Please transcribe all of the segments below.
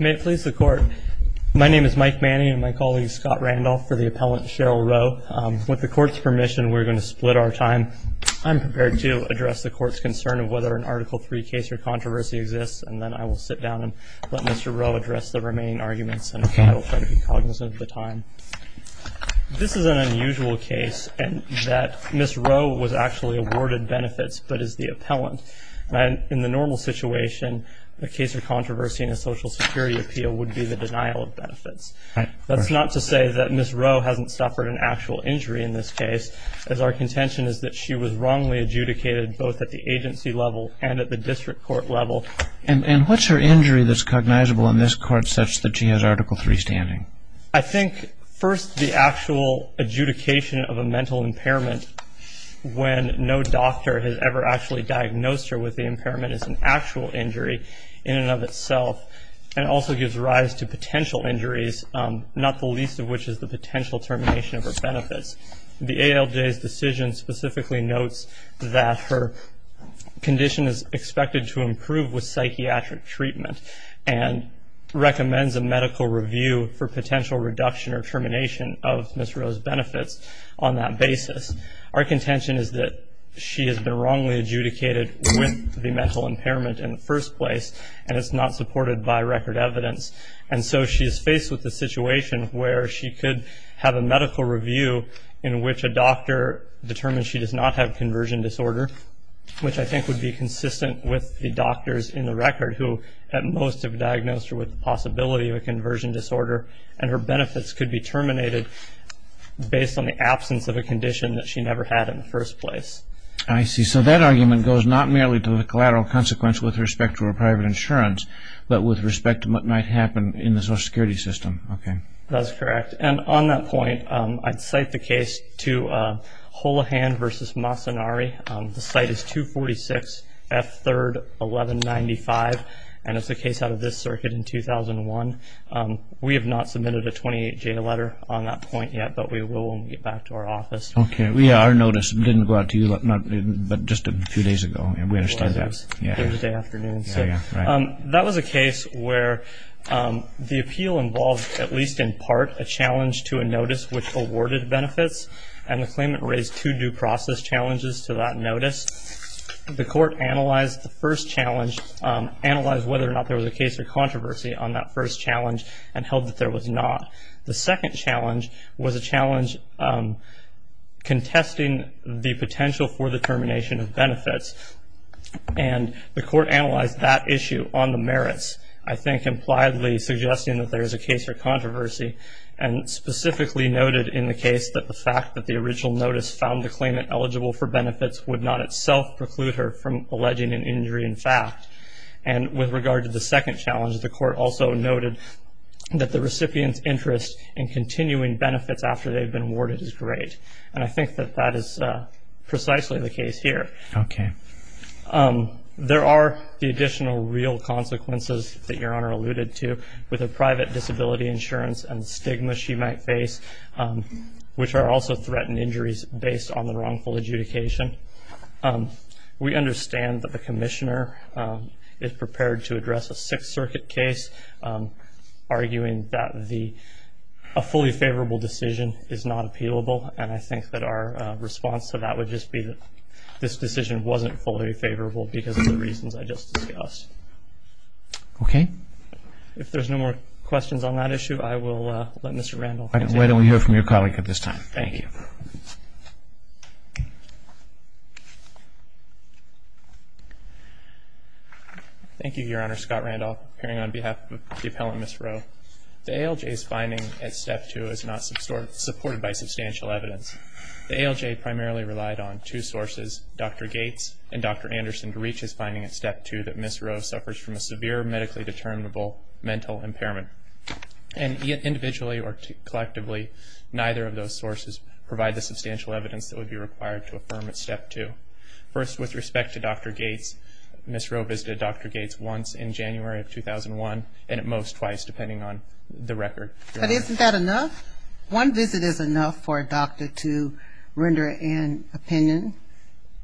May it please the Court, my name is Mike Manning and my colleague Scott Randolph for the Appellant Cheryl Rowe. With the Court's permission, we're going to split our time. I'm prepared to address the Court's concern of whether an Article 3 case or controversy exists, and then I will sit down and let Mr. Rowe address the remaining arguments, and I will try to be cognizant of the time. This is an unusual case in that Ms. Rowe was actually awarded benefits but is the Appellant. In the normal situation, a case of controversy in a Social Security appeal would be the denial of benefits. That's not to say that Ms. Rowe hasn't suffered an actual injury in this case, as our contention is that she was wrongly adjudicated both at the agency level and at the district court level. And what's her injury that's cognizable in this court such that she has Article 3 standing? I think, first, the actual adjudication of a mental impairment when no doctor has ever actually diagnosed her with the impairment is an actual injury in and of itself, and also gives rise to potential injuries, not the least of which is the potential termination of her benefits. The ALJ's decision specifically notes that her condition is expected to improve with psychiatric treatment and recommends a medical review for potential reduction or termination of Ms. Rowe's benefits on that basis. Our contention is that she has been wrongly adjudicated with the mental impairment in the first place, and it's not supported by record evidence. And so she is faced with a situation where she could have a medical review in which a doctor determines she does not have a conversion disorder, which I think would be consistent with the doctors in the record who at most have diagnosed her with the possibility of a conversion disorder, and her benefits could be terminated based on the absence of a condition that she never had in the first place. I see. So that argument goes not merely to the collateral consequence with respect to her private insurance, but with respect to what might happen in the Social Security system. Okay. That's correct. And on that point, I'd cite the case to Holohan v. Masanari. The site is 246F3-1195, and it's a case out of this circuit in 2001. We have not submitted a 28-J letter on that point yet, but we will when we get back to our office. Okay. Our notice didn't go out to you, but just a few days ago. We understand that. Thursday afternoon. That was a case where the appeal involved, at least in part, a challenge to a notice which awarded benefits, and the claimant raised two due process challenges to that notice. The court analyzed the first challenge, analyzed whether or not there was a case of controversy on that first challenge and held that there was not. The second challenge was a challenge contesting the potential for the termination of benefits, and the court analyzed that issue on the merits, I think impliedly suggesting that there is a case for controversy and specifically noted in the case that the fact that the original notice found the claimant eligible for benefits would not itself preclude her from alleging an injury in fact. And with regard to the second challenge, the court also noted that the recipient's interest in continuing benefits after they've been awarded is great, and I think that that is precisely the case here. Okay. There are the additional real consequences that Your Honor alluded to with a private disability insurance and the stigma she might face, which are also threatened injuries based on the wrongful adjudication. We understand that the commissioner is prepared to address a Sixth Circuit case, arguing that a fully favorable decision is not appealable, and I think that our response to that would just be that this decision wasn't fully favorable because of the reasons I just discussed. Okay. If there's no more questions on that issue, I will let Mr. Randolph continue. Why don't we hear from your colleague at this time? Thank you. Thank you, Your Honor. Scott Randolph, appearing on behalf of the appellant, Ms. Rowe. The ALJ's finding at Step 2 is not supported by substantial evidence. The ALJ primarily relied on two sources, Dr. Gates and Dr. Anderson, to reach his finding at Step 2 that Ms. Rowe suffers from a severe medically determinable mental impairment. And individually or collectively, neither of those sources provide the substantial evidence that would be required to affirm at Step 2. First, with respect to Dr. Gates, Ms. Rowe visited Dr. Gates once in January of 2001, and at most twice, depending on the record, Your Honor. But isn't that enough? One visit is enough for a doctor to render an opinion.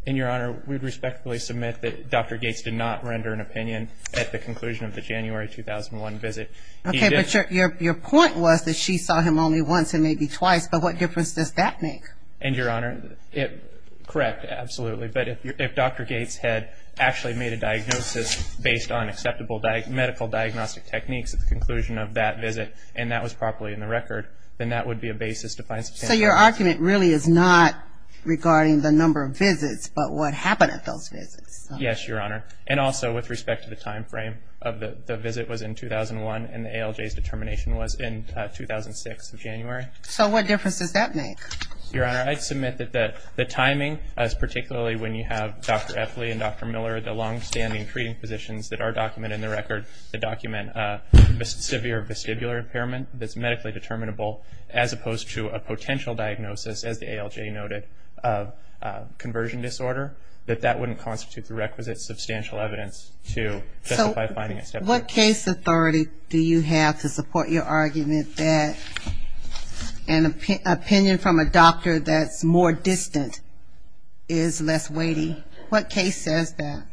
And, Your Honor, we would respectfully submit that Dr. Gates did not render an opinion at the conclusion of the January 2001 visit. Okay, but your point was that she saw him only once and maybe twice, but what difference does that make? And, Your Honor, correct, absolutely. But if Dr. Gates had actually made a diagnosis based on acceptable medical diagnostic techniques at the conclusion of that visit, and that was properly in the record, then that would be a basis to find substantial evidence. So your argument really is not regarding the number of visits, but what happened at those visits? Yes, Your Honor. And also with respect to the time frame of the visit was in 2001, and the ALJ's determination was in 2006 of January. So what difference does that make? Your Honor, I'd submit that the timing, particularly when you have Dr. Effley and Dr. Miller, the longstanding treating physicians that are documented in the record that document a severe vestibular impairment that's medically determinable, as opposed to a potential diagnosis, as the ALJ noted, of conversion disorder, that that wouldn't constitute the requisite substantial evidence to justify finding a step-up. What case authority do you have to support your argument that an opinion from a doctor that's more distant is less weighty? What case says that?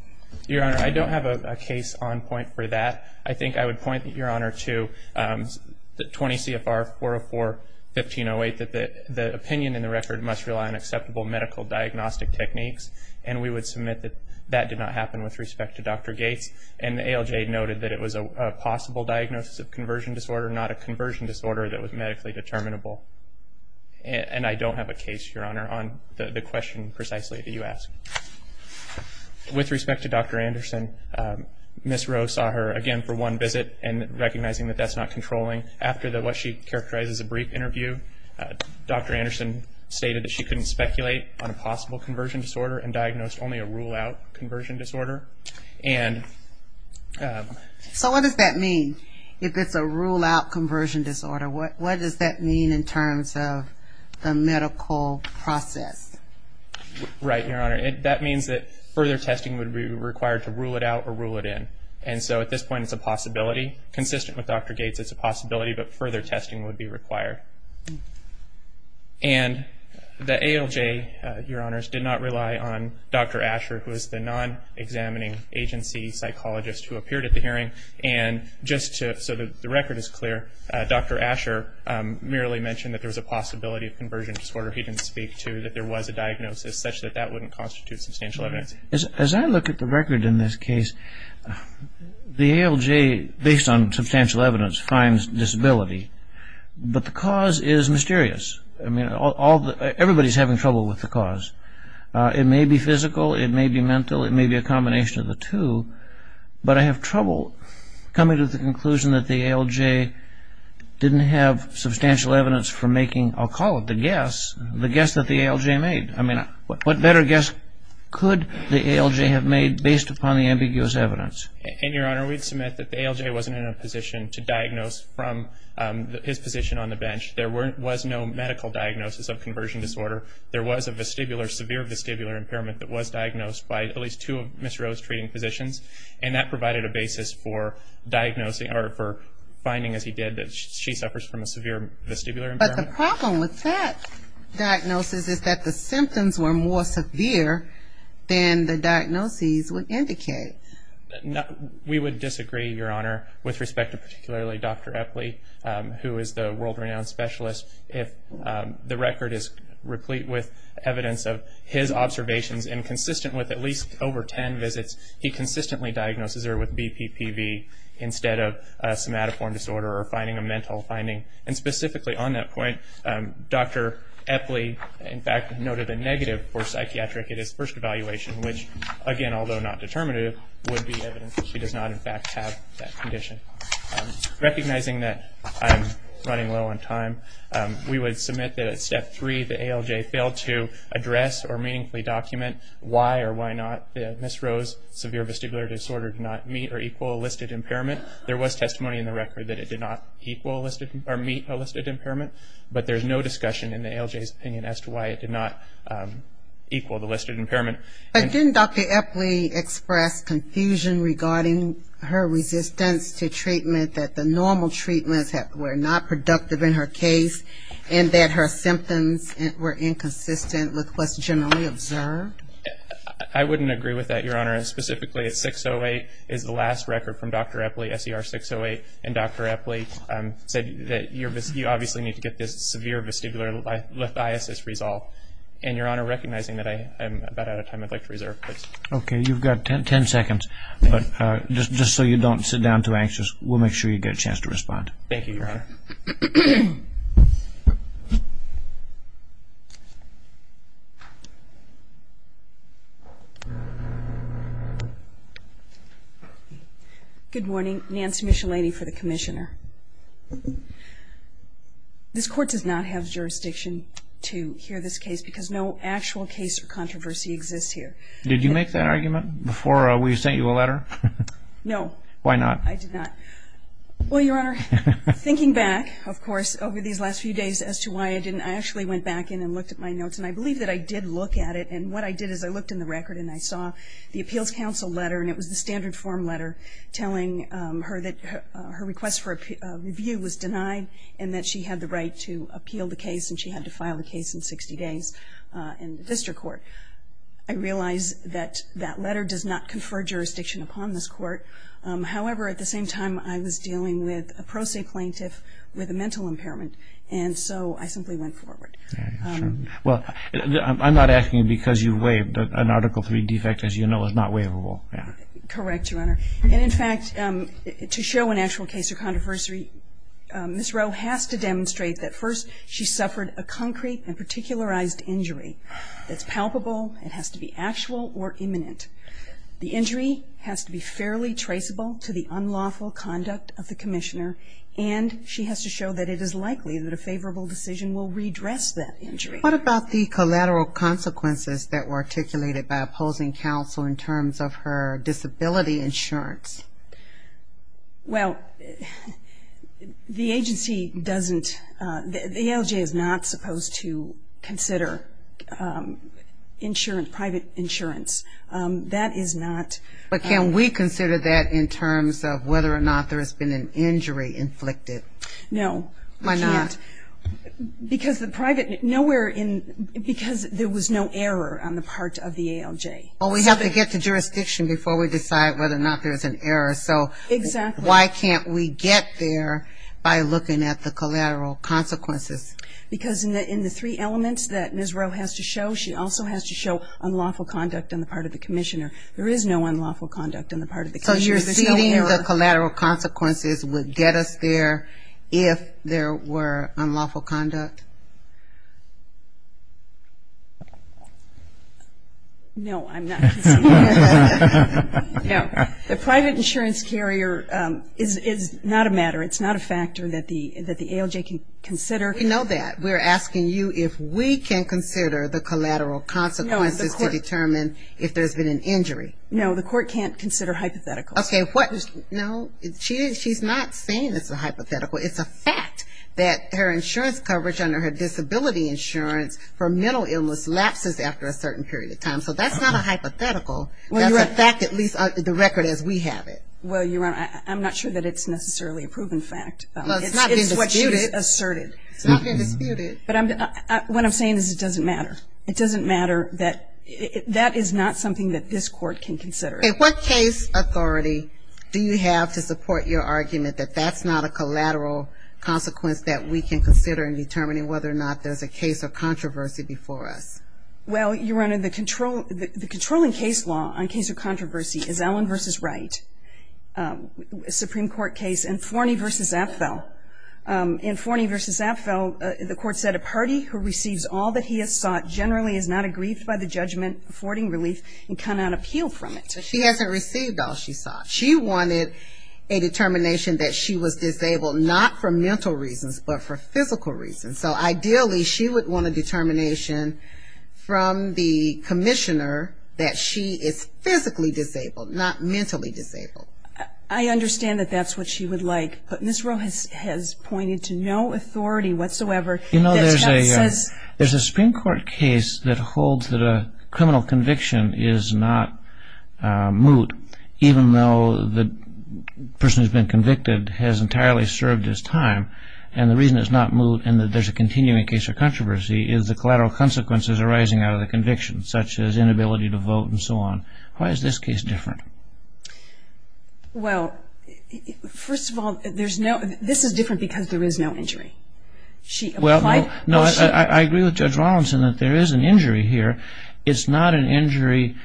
Your Honor, I don't have a case on point for that. I think I would point, Your Honor, to 20 CFR 404-1508, that the opinion in the record must rely on acceptable medical diagnostic techniques, and we would submit that that did not happen with respect to Dr. Gates. And the ALJ noted that it was a possible diagnosis of conversion disorder, not a conversion disorder that was medically determinable. And I don't have a case, Your Honor, on the question precisely that you asked. With respect to Dr. Anderson, Ms. Rowe saw her again for one visit and recognizing that that's not controlling. After what she characterized as a brief interview, Dr. Anderson stated that she couldn't speculate on a possible conversion disorder and diagnosed only a rule-out conversion disorder. So what does that mean, if it's a rule-out conversion disorder? What does that mean in terms of the medical process? Right, Your Honor. That means that further testing would be required to rule it out or rule it in. And so at this point it's a possibility. Consistent with Dr. Gates, it's a possibility, but further testing would be required. And the ALJ, Your Honors, did not rely on Dr. Asher, who is the non-examining agency psychologist who appeared at the hearing. And just so that the record is clear, Dr. Asher merely mentioned that there was a possibility of conversion disorder he didn't speak to, that there was a diagnosis, such that that wouldn't constitute substantial evidence. As I look at the record in this case, the ALJ, based on substantial evidence, finds disability, but the cause is mysterious. I mean, everybody's having trouble with the cause. It may be physical, it may be mental, it may be a combination of the two, but I have trouble coming to the conclusion that the ALJ didn't have substantial evidence for making, I'll call it the guess, the guess that the ALJ made. I mean, what better guess could the ALJ have made based upon the ambiguous evidence? And, Your Honor, we'd submit that the ALJ wasn't in a position to diagnose from his position on the bench. There was no medical diagnosis of conversion disorder. There was a severe vestibular impairment that was diagnosed by at least two of Ms. Rose's treating physicians, and that provided a basis for finding, as he did, that she suffers from a severe vestibular impairment. But the problem with that diagnosis is that the symptoms were more severe than the diagnoses would indicate. We would disagree, Your Honor, with respect to particularly Dr. Epley, who is the world-renowned specialist. If the record is replete with evidence of his observations and consistent with at least over ten visits, he consistently diagnoses her with BPPV instead of somatoform disorder or finding a mental finding. And specifically on that point, Dr. Epley, in fact, noted a negative for psychiatric in his first evaluation, which, again, although not determinative, would be evidence that she does not, in fact, have that condition. Recognizing that I'm running low on time, we would submit that at Step 3, the ALJ failed to address or meaningfully document why or why not Ms. Rose's severe vestibular disorder did not meet or equal a listed impairment. There was testimony in the record that it did not meet a listed impairment, but there's no discussion in the ALJ's opinion as to why it did not equal the listed impairment. But didn't Dr. Epley express confusion regarding her resistance to treatment, that the normal treatments were not productive in her case, and that her symptoms were inconsistent with what's generally observed? I wouldn't agree with that, Your Honor, and specifically at 6-08 is the last record from Dr. Epley, SER 6-08, and Dr. Epley said that you obviously need to get this severe vestibular lithiasis resolved. And, Your Honor, recognizing that I'm about out of time, I'd like to reserve. Okay, you've got 10 seconds, but just so you don't sit down too anxious, we'll make sure you get a chance to respond. Thank you, Your Honor. Good morning. Nancy Micheletti for the Commissioner. This Court does not have jurisdiction to hear this case because no actual case or controversy exists here. Did you make that argument before we sent you a letter? No. Why not? I did not. Well, Your Honor, thinking back, of course, over these last few days as to why I didn't, I actually went back in and looked at my notes, and I believe that I did look at it, and what I did is I looked in the record, and I saw the Appeals Counsel letter, and it was the standard form letter, telling her that her request for review was denied and that she had the right to appeal the case, and she had to file the case in 60 days in the District Court. I realize that that letter does not confer jurisdiction upon this Court. However, at the same time, I was dealing with a pro se plaintiff with a mental impairment, and so I simply went forward. Well, I'm not asking because you waived an Article III defect, as you know, is not waivable. Correct, Your Honor. And, in fact, to show an actual case or controversy, Ms. Rowe has to demonstrate that, first, she suffered a concrete and particularized injury that's palpable. It has to be actual or imminent. The injury has to be fairly traceable to the unlawful conduct of the commissioner, and she has to show that it is likely that a favorable decision will redress that injury. What about the collateral consequences that were articulated by opposing counsel in terms of her disability insurance? Well, the agency doesn't, the ALJ is not supposed to consider insurance, private insurance. That is not. But can we consider that in terms of whether or not there has been an injury inflicted? No. Why not? Because the private, nowhere in, because there was no error on the part of the ALJ. Well, we have to get to jurisdiction before we decide whether or not there's an error. Exactly. So why can't we get there by looking at the collateral consequences? Because in the three elements that Ms. Rowe has to show, she also has to show unlawful conduct on the part of the commissioner. There is no unlawful conduct on the part of the commissioner. So you're ceding the collateral consequences would get us there if there were unlawful conduct? No, I'm not. No. The private insurance carrier is not a matter, it's not a factor that the ALJ can consider. We know that. We're asking you if we can consider the collateral consequences to determine if there's been an injury. No, the court can't consider hypotheticals. Okay, what? No, she's not saying it's a hypothetical. It's a fact that her insurance coverage under her disability insurance for mental illness lapses after a certain period of time. So that's not a hypothetical. That's a fact, at least the record as we have it. Well, Your Honor, I'm not sure that it's necessarily a proven fact. Well, it's not been disputed. It's what she has asserted. It's not been disputed. But what I'm saying is it doesn't matter. It doesn't matter. That is not something that this Court can consider. And what case authority do you have to support your argument that that's not a collateral consequence that we can consider in determining whether or not there's a case of controversy before us? Well, Your Honor, the controlling case law on case of controversy is Allen v. Wright, a Supreme Court case in Forney v. Apfel. In Forney v. Apfel, the Court said, a party who receives all that he has sought generally is not aggrieved by the judgment affording relief and cannot appeal from it. But she hasn't received all she sought. She wanted a determination that she was disabled not for mental reasons but for physical reasons. So ideally she would want a determination from the commissioner that she is physically disabled, not mentally disabled. I understand that that's what she would like. But Ms. Roe has pointed to no authority whatsoever. You know, there's a Supreme Court case that holds that a criminal conviction is not moot, even though the person who's been convicted has entirely served his time. And the reason it's not moot and that there's a continuing case of controversy is the collateral consequences arising out of the conviction, such as inability to vote and so on. Why is this case different? Well, first of all, this is different because there is no injury. I agree with Judge Rawlinson that there is an injury here. It's not an injury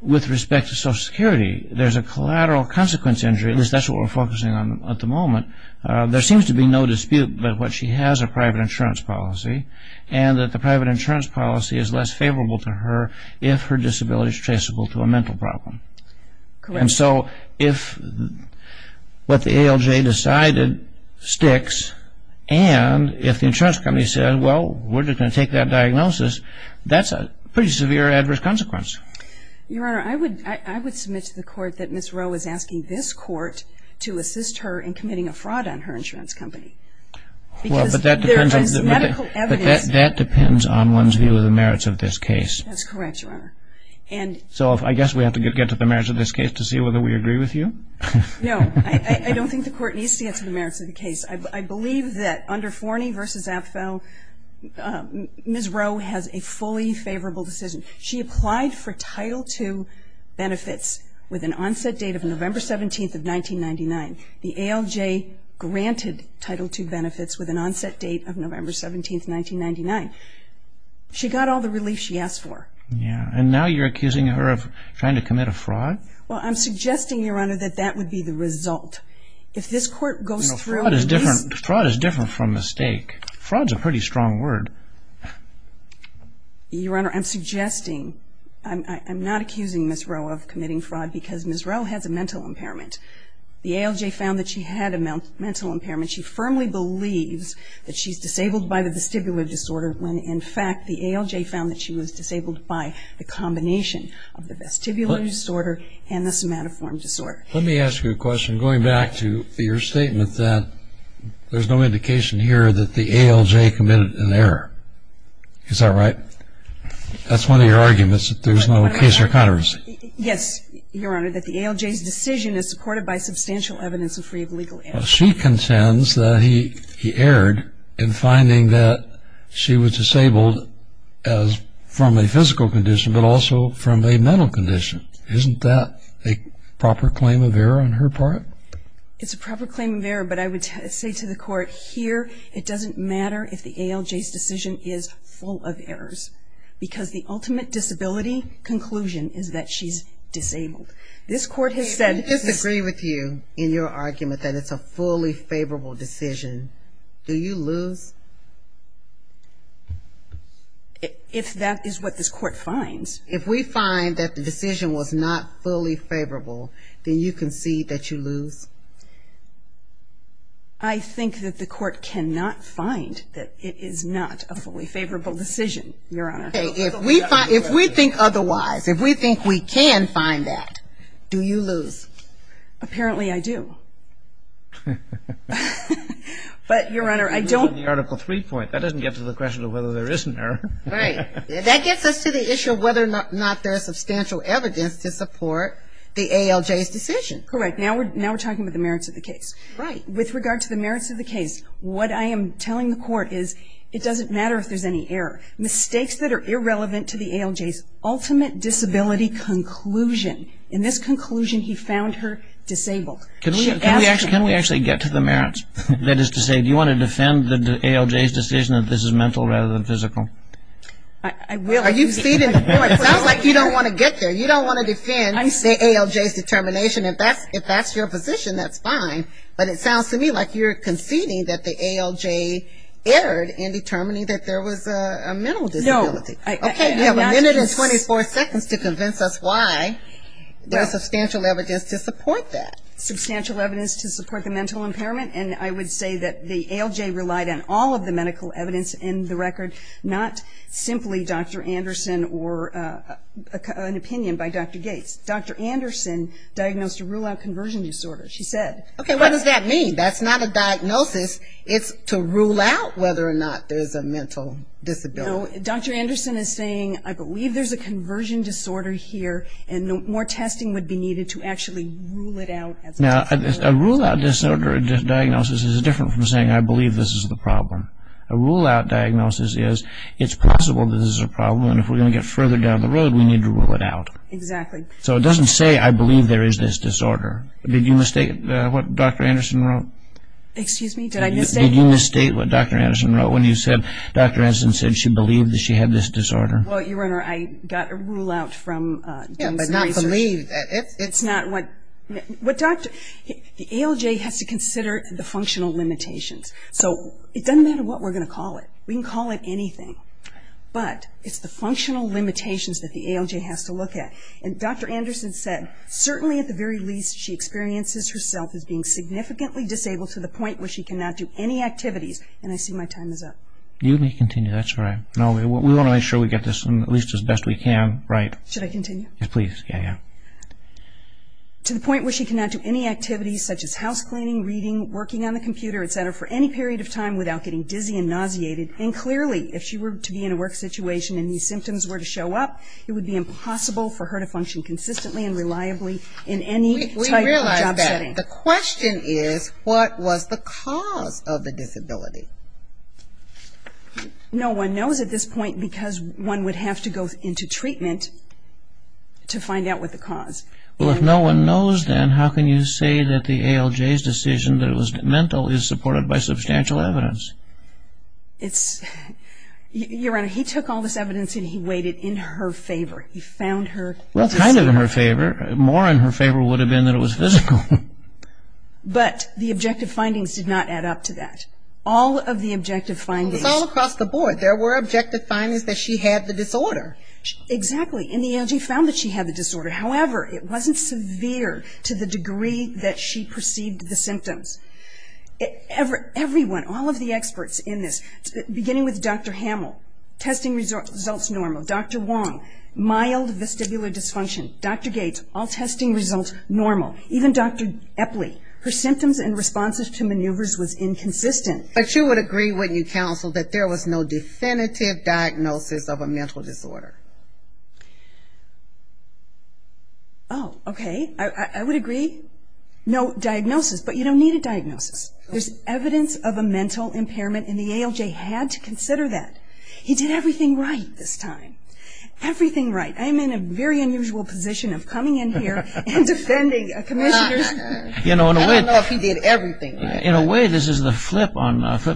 with respect to Social Security. There's a collateral consequence injury. That's what we're focusing on at the moment. There seems to be no dispute that she has a private insurance policy and that the private insurance policy is less favorable to her if her disability is traceable to a mental problem. Correct. And so if what the ALJ decided sticks and if the insurance company says, well, we're just going to take that diagnosis, that's a pretty severe adverse consequence. Your Honor, I would submit to the Court that Ms. Roe is asking this Court to assist her in committing a fraud on her insurance company. Because there is medical evidence. Well, but that depends on one's view of the merits of this case. That's correct, Your Honor. So I guess we have to get to the merits of this case to see whether we agree with you? No. I don't think the Court needs to get to the merits of the case. I believe that under Forney v. Abfell, Ms. Roe has a fully favorable decision. She applied for Title II benefits with an onset date of November 17th of 1999. The ALJ granted Title II benefits with an onset date of November 17th, 1999. She got all the relief she asked for. Yeah. And now you're accusing her of trying to commit a fraud? Well, I'm suggesting, Your Honor, that that would be the result. If this Court goes through and releases her. Fraud is different from mistake. Fraud is a pretty strong word. Your Honor, I'm suggesting, I'm not accusing Ms. Roe of committing fraud because Ms. Roe has a mental impairment. The ALJ found that she had a mental impairment. She firmly believes that she's disabled by the vestibular disorder when, in fact, the ALJ found that she was disabled by the combination of the vestibular disorder and the somatoform disorder. Let me ask you a question going back to your statement that there's no indication here that the ALJ committed an error. Is that right? That's one of your arguments that there's no case or controversy. Yes, Your Honor, that the ALJ's decision is supported by substantial evidence and free of legal error. Well, she contends that he erred in finding that she was disabled from a physical condition but also from a mental condition. Isn't that a proper claim of error on her part? It's a proper claim of error, but I would say to the Court, here it doesn't matter if the ALJ's decision is full of errors because the ultimate disability conclusion is that she's disabled. This Court has said... If that is a fully favorable decision, do you lose? If that is what this Court finds. If we find that the decision was not fully favorable, then you concede that you lose. I think that the Court cannot find that it is not a fully favorable decision, Your Honor. If we think otherwise, if we think we can find that, do you lose? Apparently I do. But, Your Honor, I don't... You're losing the Article 3 point. That doesn't get to the question of whether there is an error. Right. That gets us to the issue of whether or not there is substantial evidence to support the ALJ's decision. Correct. Now we're talking about the merits of the case. Right. With regard to the merits of the case, what I am telling the Court is it doesn't matter if there's any error. Mistakes that are irrelevant to the ALJ's ultimate disability conclusion. In this conclusion, he found her disabled. Can we actually get to the merits? That is to say, do you want to defend the ALJ's decision that this is mental rather than physical? I will. It sounds like you don't want to get there. You don't want to defend the ALJ's determination. If that's your position, that's fine. But it sounds to me like you're conceding that the ALJ erred in determining that there was a mental disability. No. Okay. You have a minute and 24 seconds to convince us why there's substantial evidence to support that. Substantial evidence to support the mental impairment, and I would say that the ALJ relied on all of the medical evidence in the record, not simply Dr. Anderson or an opinion by Dr. Gates. Dr. Anderson diagnosed a rule-out conversion disorder, she said. Okay. What does that mean? That's not a diagnosis. It's to rule out whether or not there's a mental disability. No, Dr. Anderson is saying, I believe there's a conversion disorder here and more testing would be needed to actually rule it out. Now, a rule-out disorder diagnosis is different from saying, I believe this is the problem. A rule-out diagnosis is, it's possible this is a problem and if we're going to get further down the road, we need to rule it out. Exactly. So it doesn't say, I believe there is this disorder. Did you mistake what Dr. Anderson wrote? Excuse me, did I mistake? Did you mistake what Dr. Anderson wrote when you said, Dr. Anderson said she believed that she had this disorder? Well, Your Honor, I got a rule-out from Jameson Research. Yeah, but not believe. It's not what Dr. – the ALJ has to consider the functional limitations. So it doesn't matter what we're going to call it. We can call it anything, but it's the functional limitations that the ALJ has to look at. And Dr. Anderson said, certainly at the very least, she experiences herself as being significantly disabled to the point where she cannot do any activities. And I see my time is up. You may continue, that's all right. No, we want to make sure we get this at least as best we can, right? Should I continue? Yes, please. Yeah, yeah. To the point where she cannot do any activities such as house cleaning, reading, working on the computer, et cetera, for any period of time without getting dizzy and nauseated. And clearly, if she were to be in a work situation and these symptoms were to show up, it would be impossible for her to function consistently and reliably in any type of job setting. The question is, what was the cause of the disability? No one knows at this point because one would have to go into treatment to find out what the cause. Well, if no one knows then, how can you say that the ALJ's decision that it was mental is supported by substantial evidence? It's... Your Honor, he took all this evidence and he weighed it in her favor. He found her... Well, kind of in her favor. More in her favor would have been that it was physical. But the objective findings did not add up to that. All of the objective findings... It was all across the board. There were objective findings that she had the disorder. Exactly. And the ALJ found that she had the disorder. However, it wasn't severe to the degree that she perceived the symptoms. Everyone, all of the experts in this, beginning with Dr. Hamill, testing results normal. Dr. Wong, mild vestibular dysfunction. Dr. Gates, all testing results normal. Even Dr. Epley, her symptoms and responses to maneuvers was inconsistent. But you would agree, wouldn't you, counsel, that there was no definitive diagnosis of a mental disorder? Oh, okay. I would agree. No diagnosis, but you don't need a diagnosis. There's evidence of a mental impairment and the ALJ had to consider that. He did everything right this time. Everything right. I'm in a very unusual position of coming in here and defending commissioners. I don't know if he did everything right. In a way, this is the flip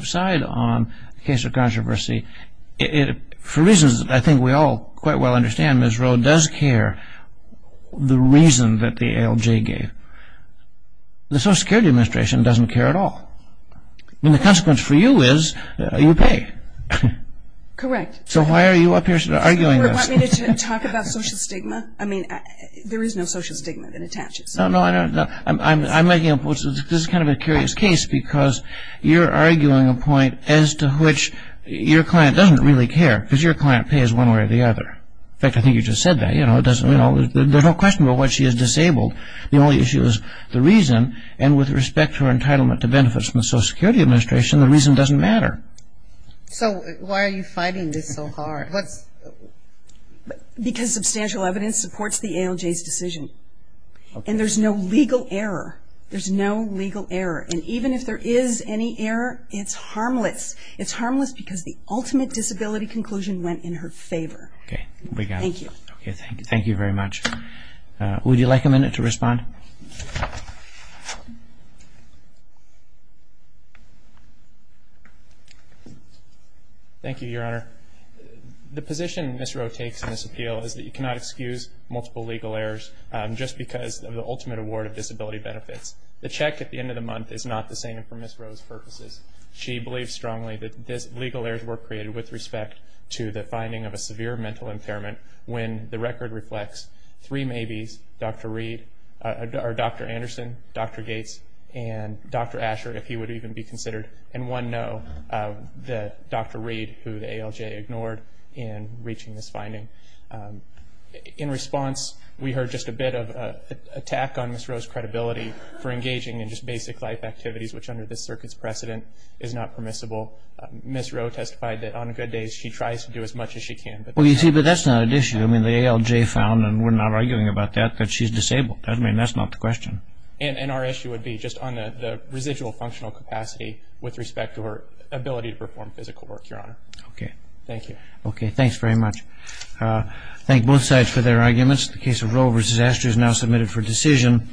side on the case of controversy. For reasons that I think we all quite well understand, Ms. Rowe does care the reason that the ALJ gave. The Social Security Administration doesn't care at all. The consequence for you is you pay. Correct. So why are you up here arguing this? Do you want me to talk about social stigma? I mean, there is no social stigma that attaches. No, no, I'm making a point. This is kind of a curious case because you're arguing a point as to which your client doesn't really care because your client pays one way or the other. In fact, I think you just said that. There's no question about why she is disabled. The only issue is the reason, and with respect to her entitlement to benefits from the Social Security Administration, the reason doesn't matter. So why are you fighting this so hard? Because substantial evidence supports the ALJ's decision. And there's no legal error. There's no legal error. And even if there is any error, it's harmless. It's harmless because the ultimate disability conclusion went in her favor. Okay, we got it. Thank you. Thank you very much. Would you like a minute to respond? Thank you, Your Honor. The position Ms. Rowe takes in this appeal is that you cannot excuse multiple legal errors just because of the ultimate award of disability benefits. The check at the end of the month is not the same for Ms. Rowe's purposes. She believes strongly that legal errors were created with respect to the finding of a severe mental impairment Dr. Reed, a disabled person, and Ms. Rowe. Or Dr. Anderson, Dr. Gates, and Dr. Asher, if he would even be considered. And one no, Dr. Reed, who the ALJ ignored in reaching this finding. In response, we heard just a bit of an attack on Ms. Rowe's credibility for engaging in just basic life activities, which under this circuit's precedent is not permissible. Ms. Rowe testified that on good days she tries to do as much as she can. Well, you see, but that's not an issue. I mean, the ALJ found, and we're not arguing about that, that she's disabled. I mean, that's not the question. And our issue would be just on the residual functional capacity with respect to her ability to perform physical work, Your Honor. Okay. Thank you. Okay, thanks very much. Thank both sides for their arguments. The case of Rowe v. Asher is now submitted for decision.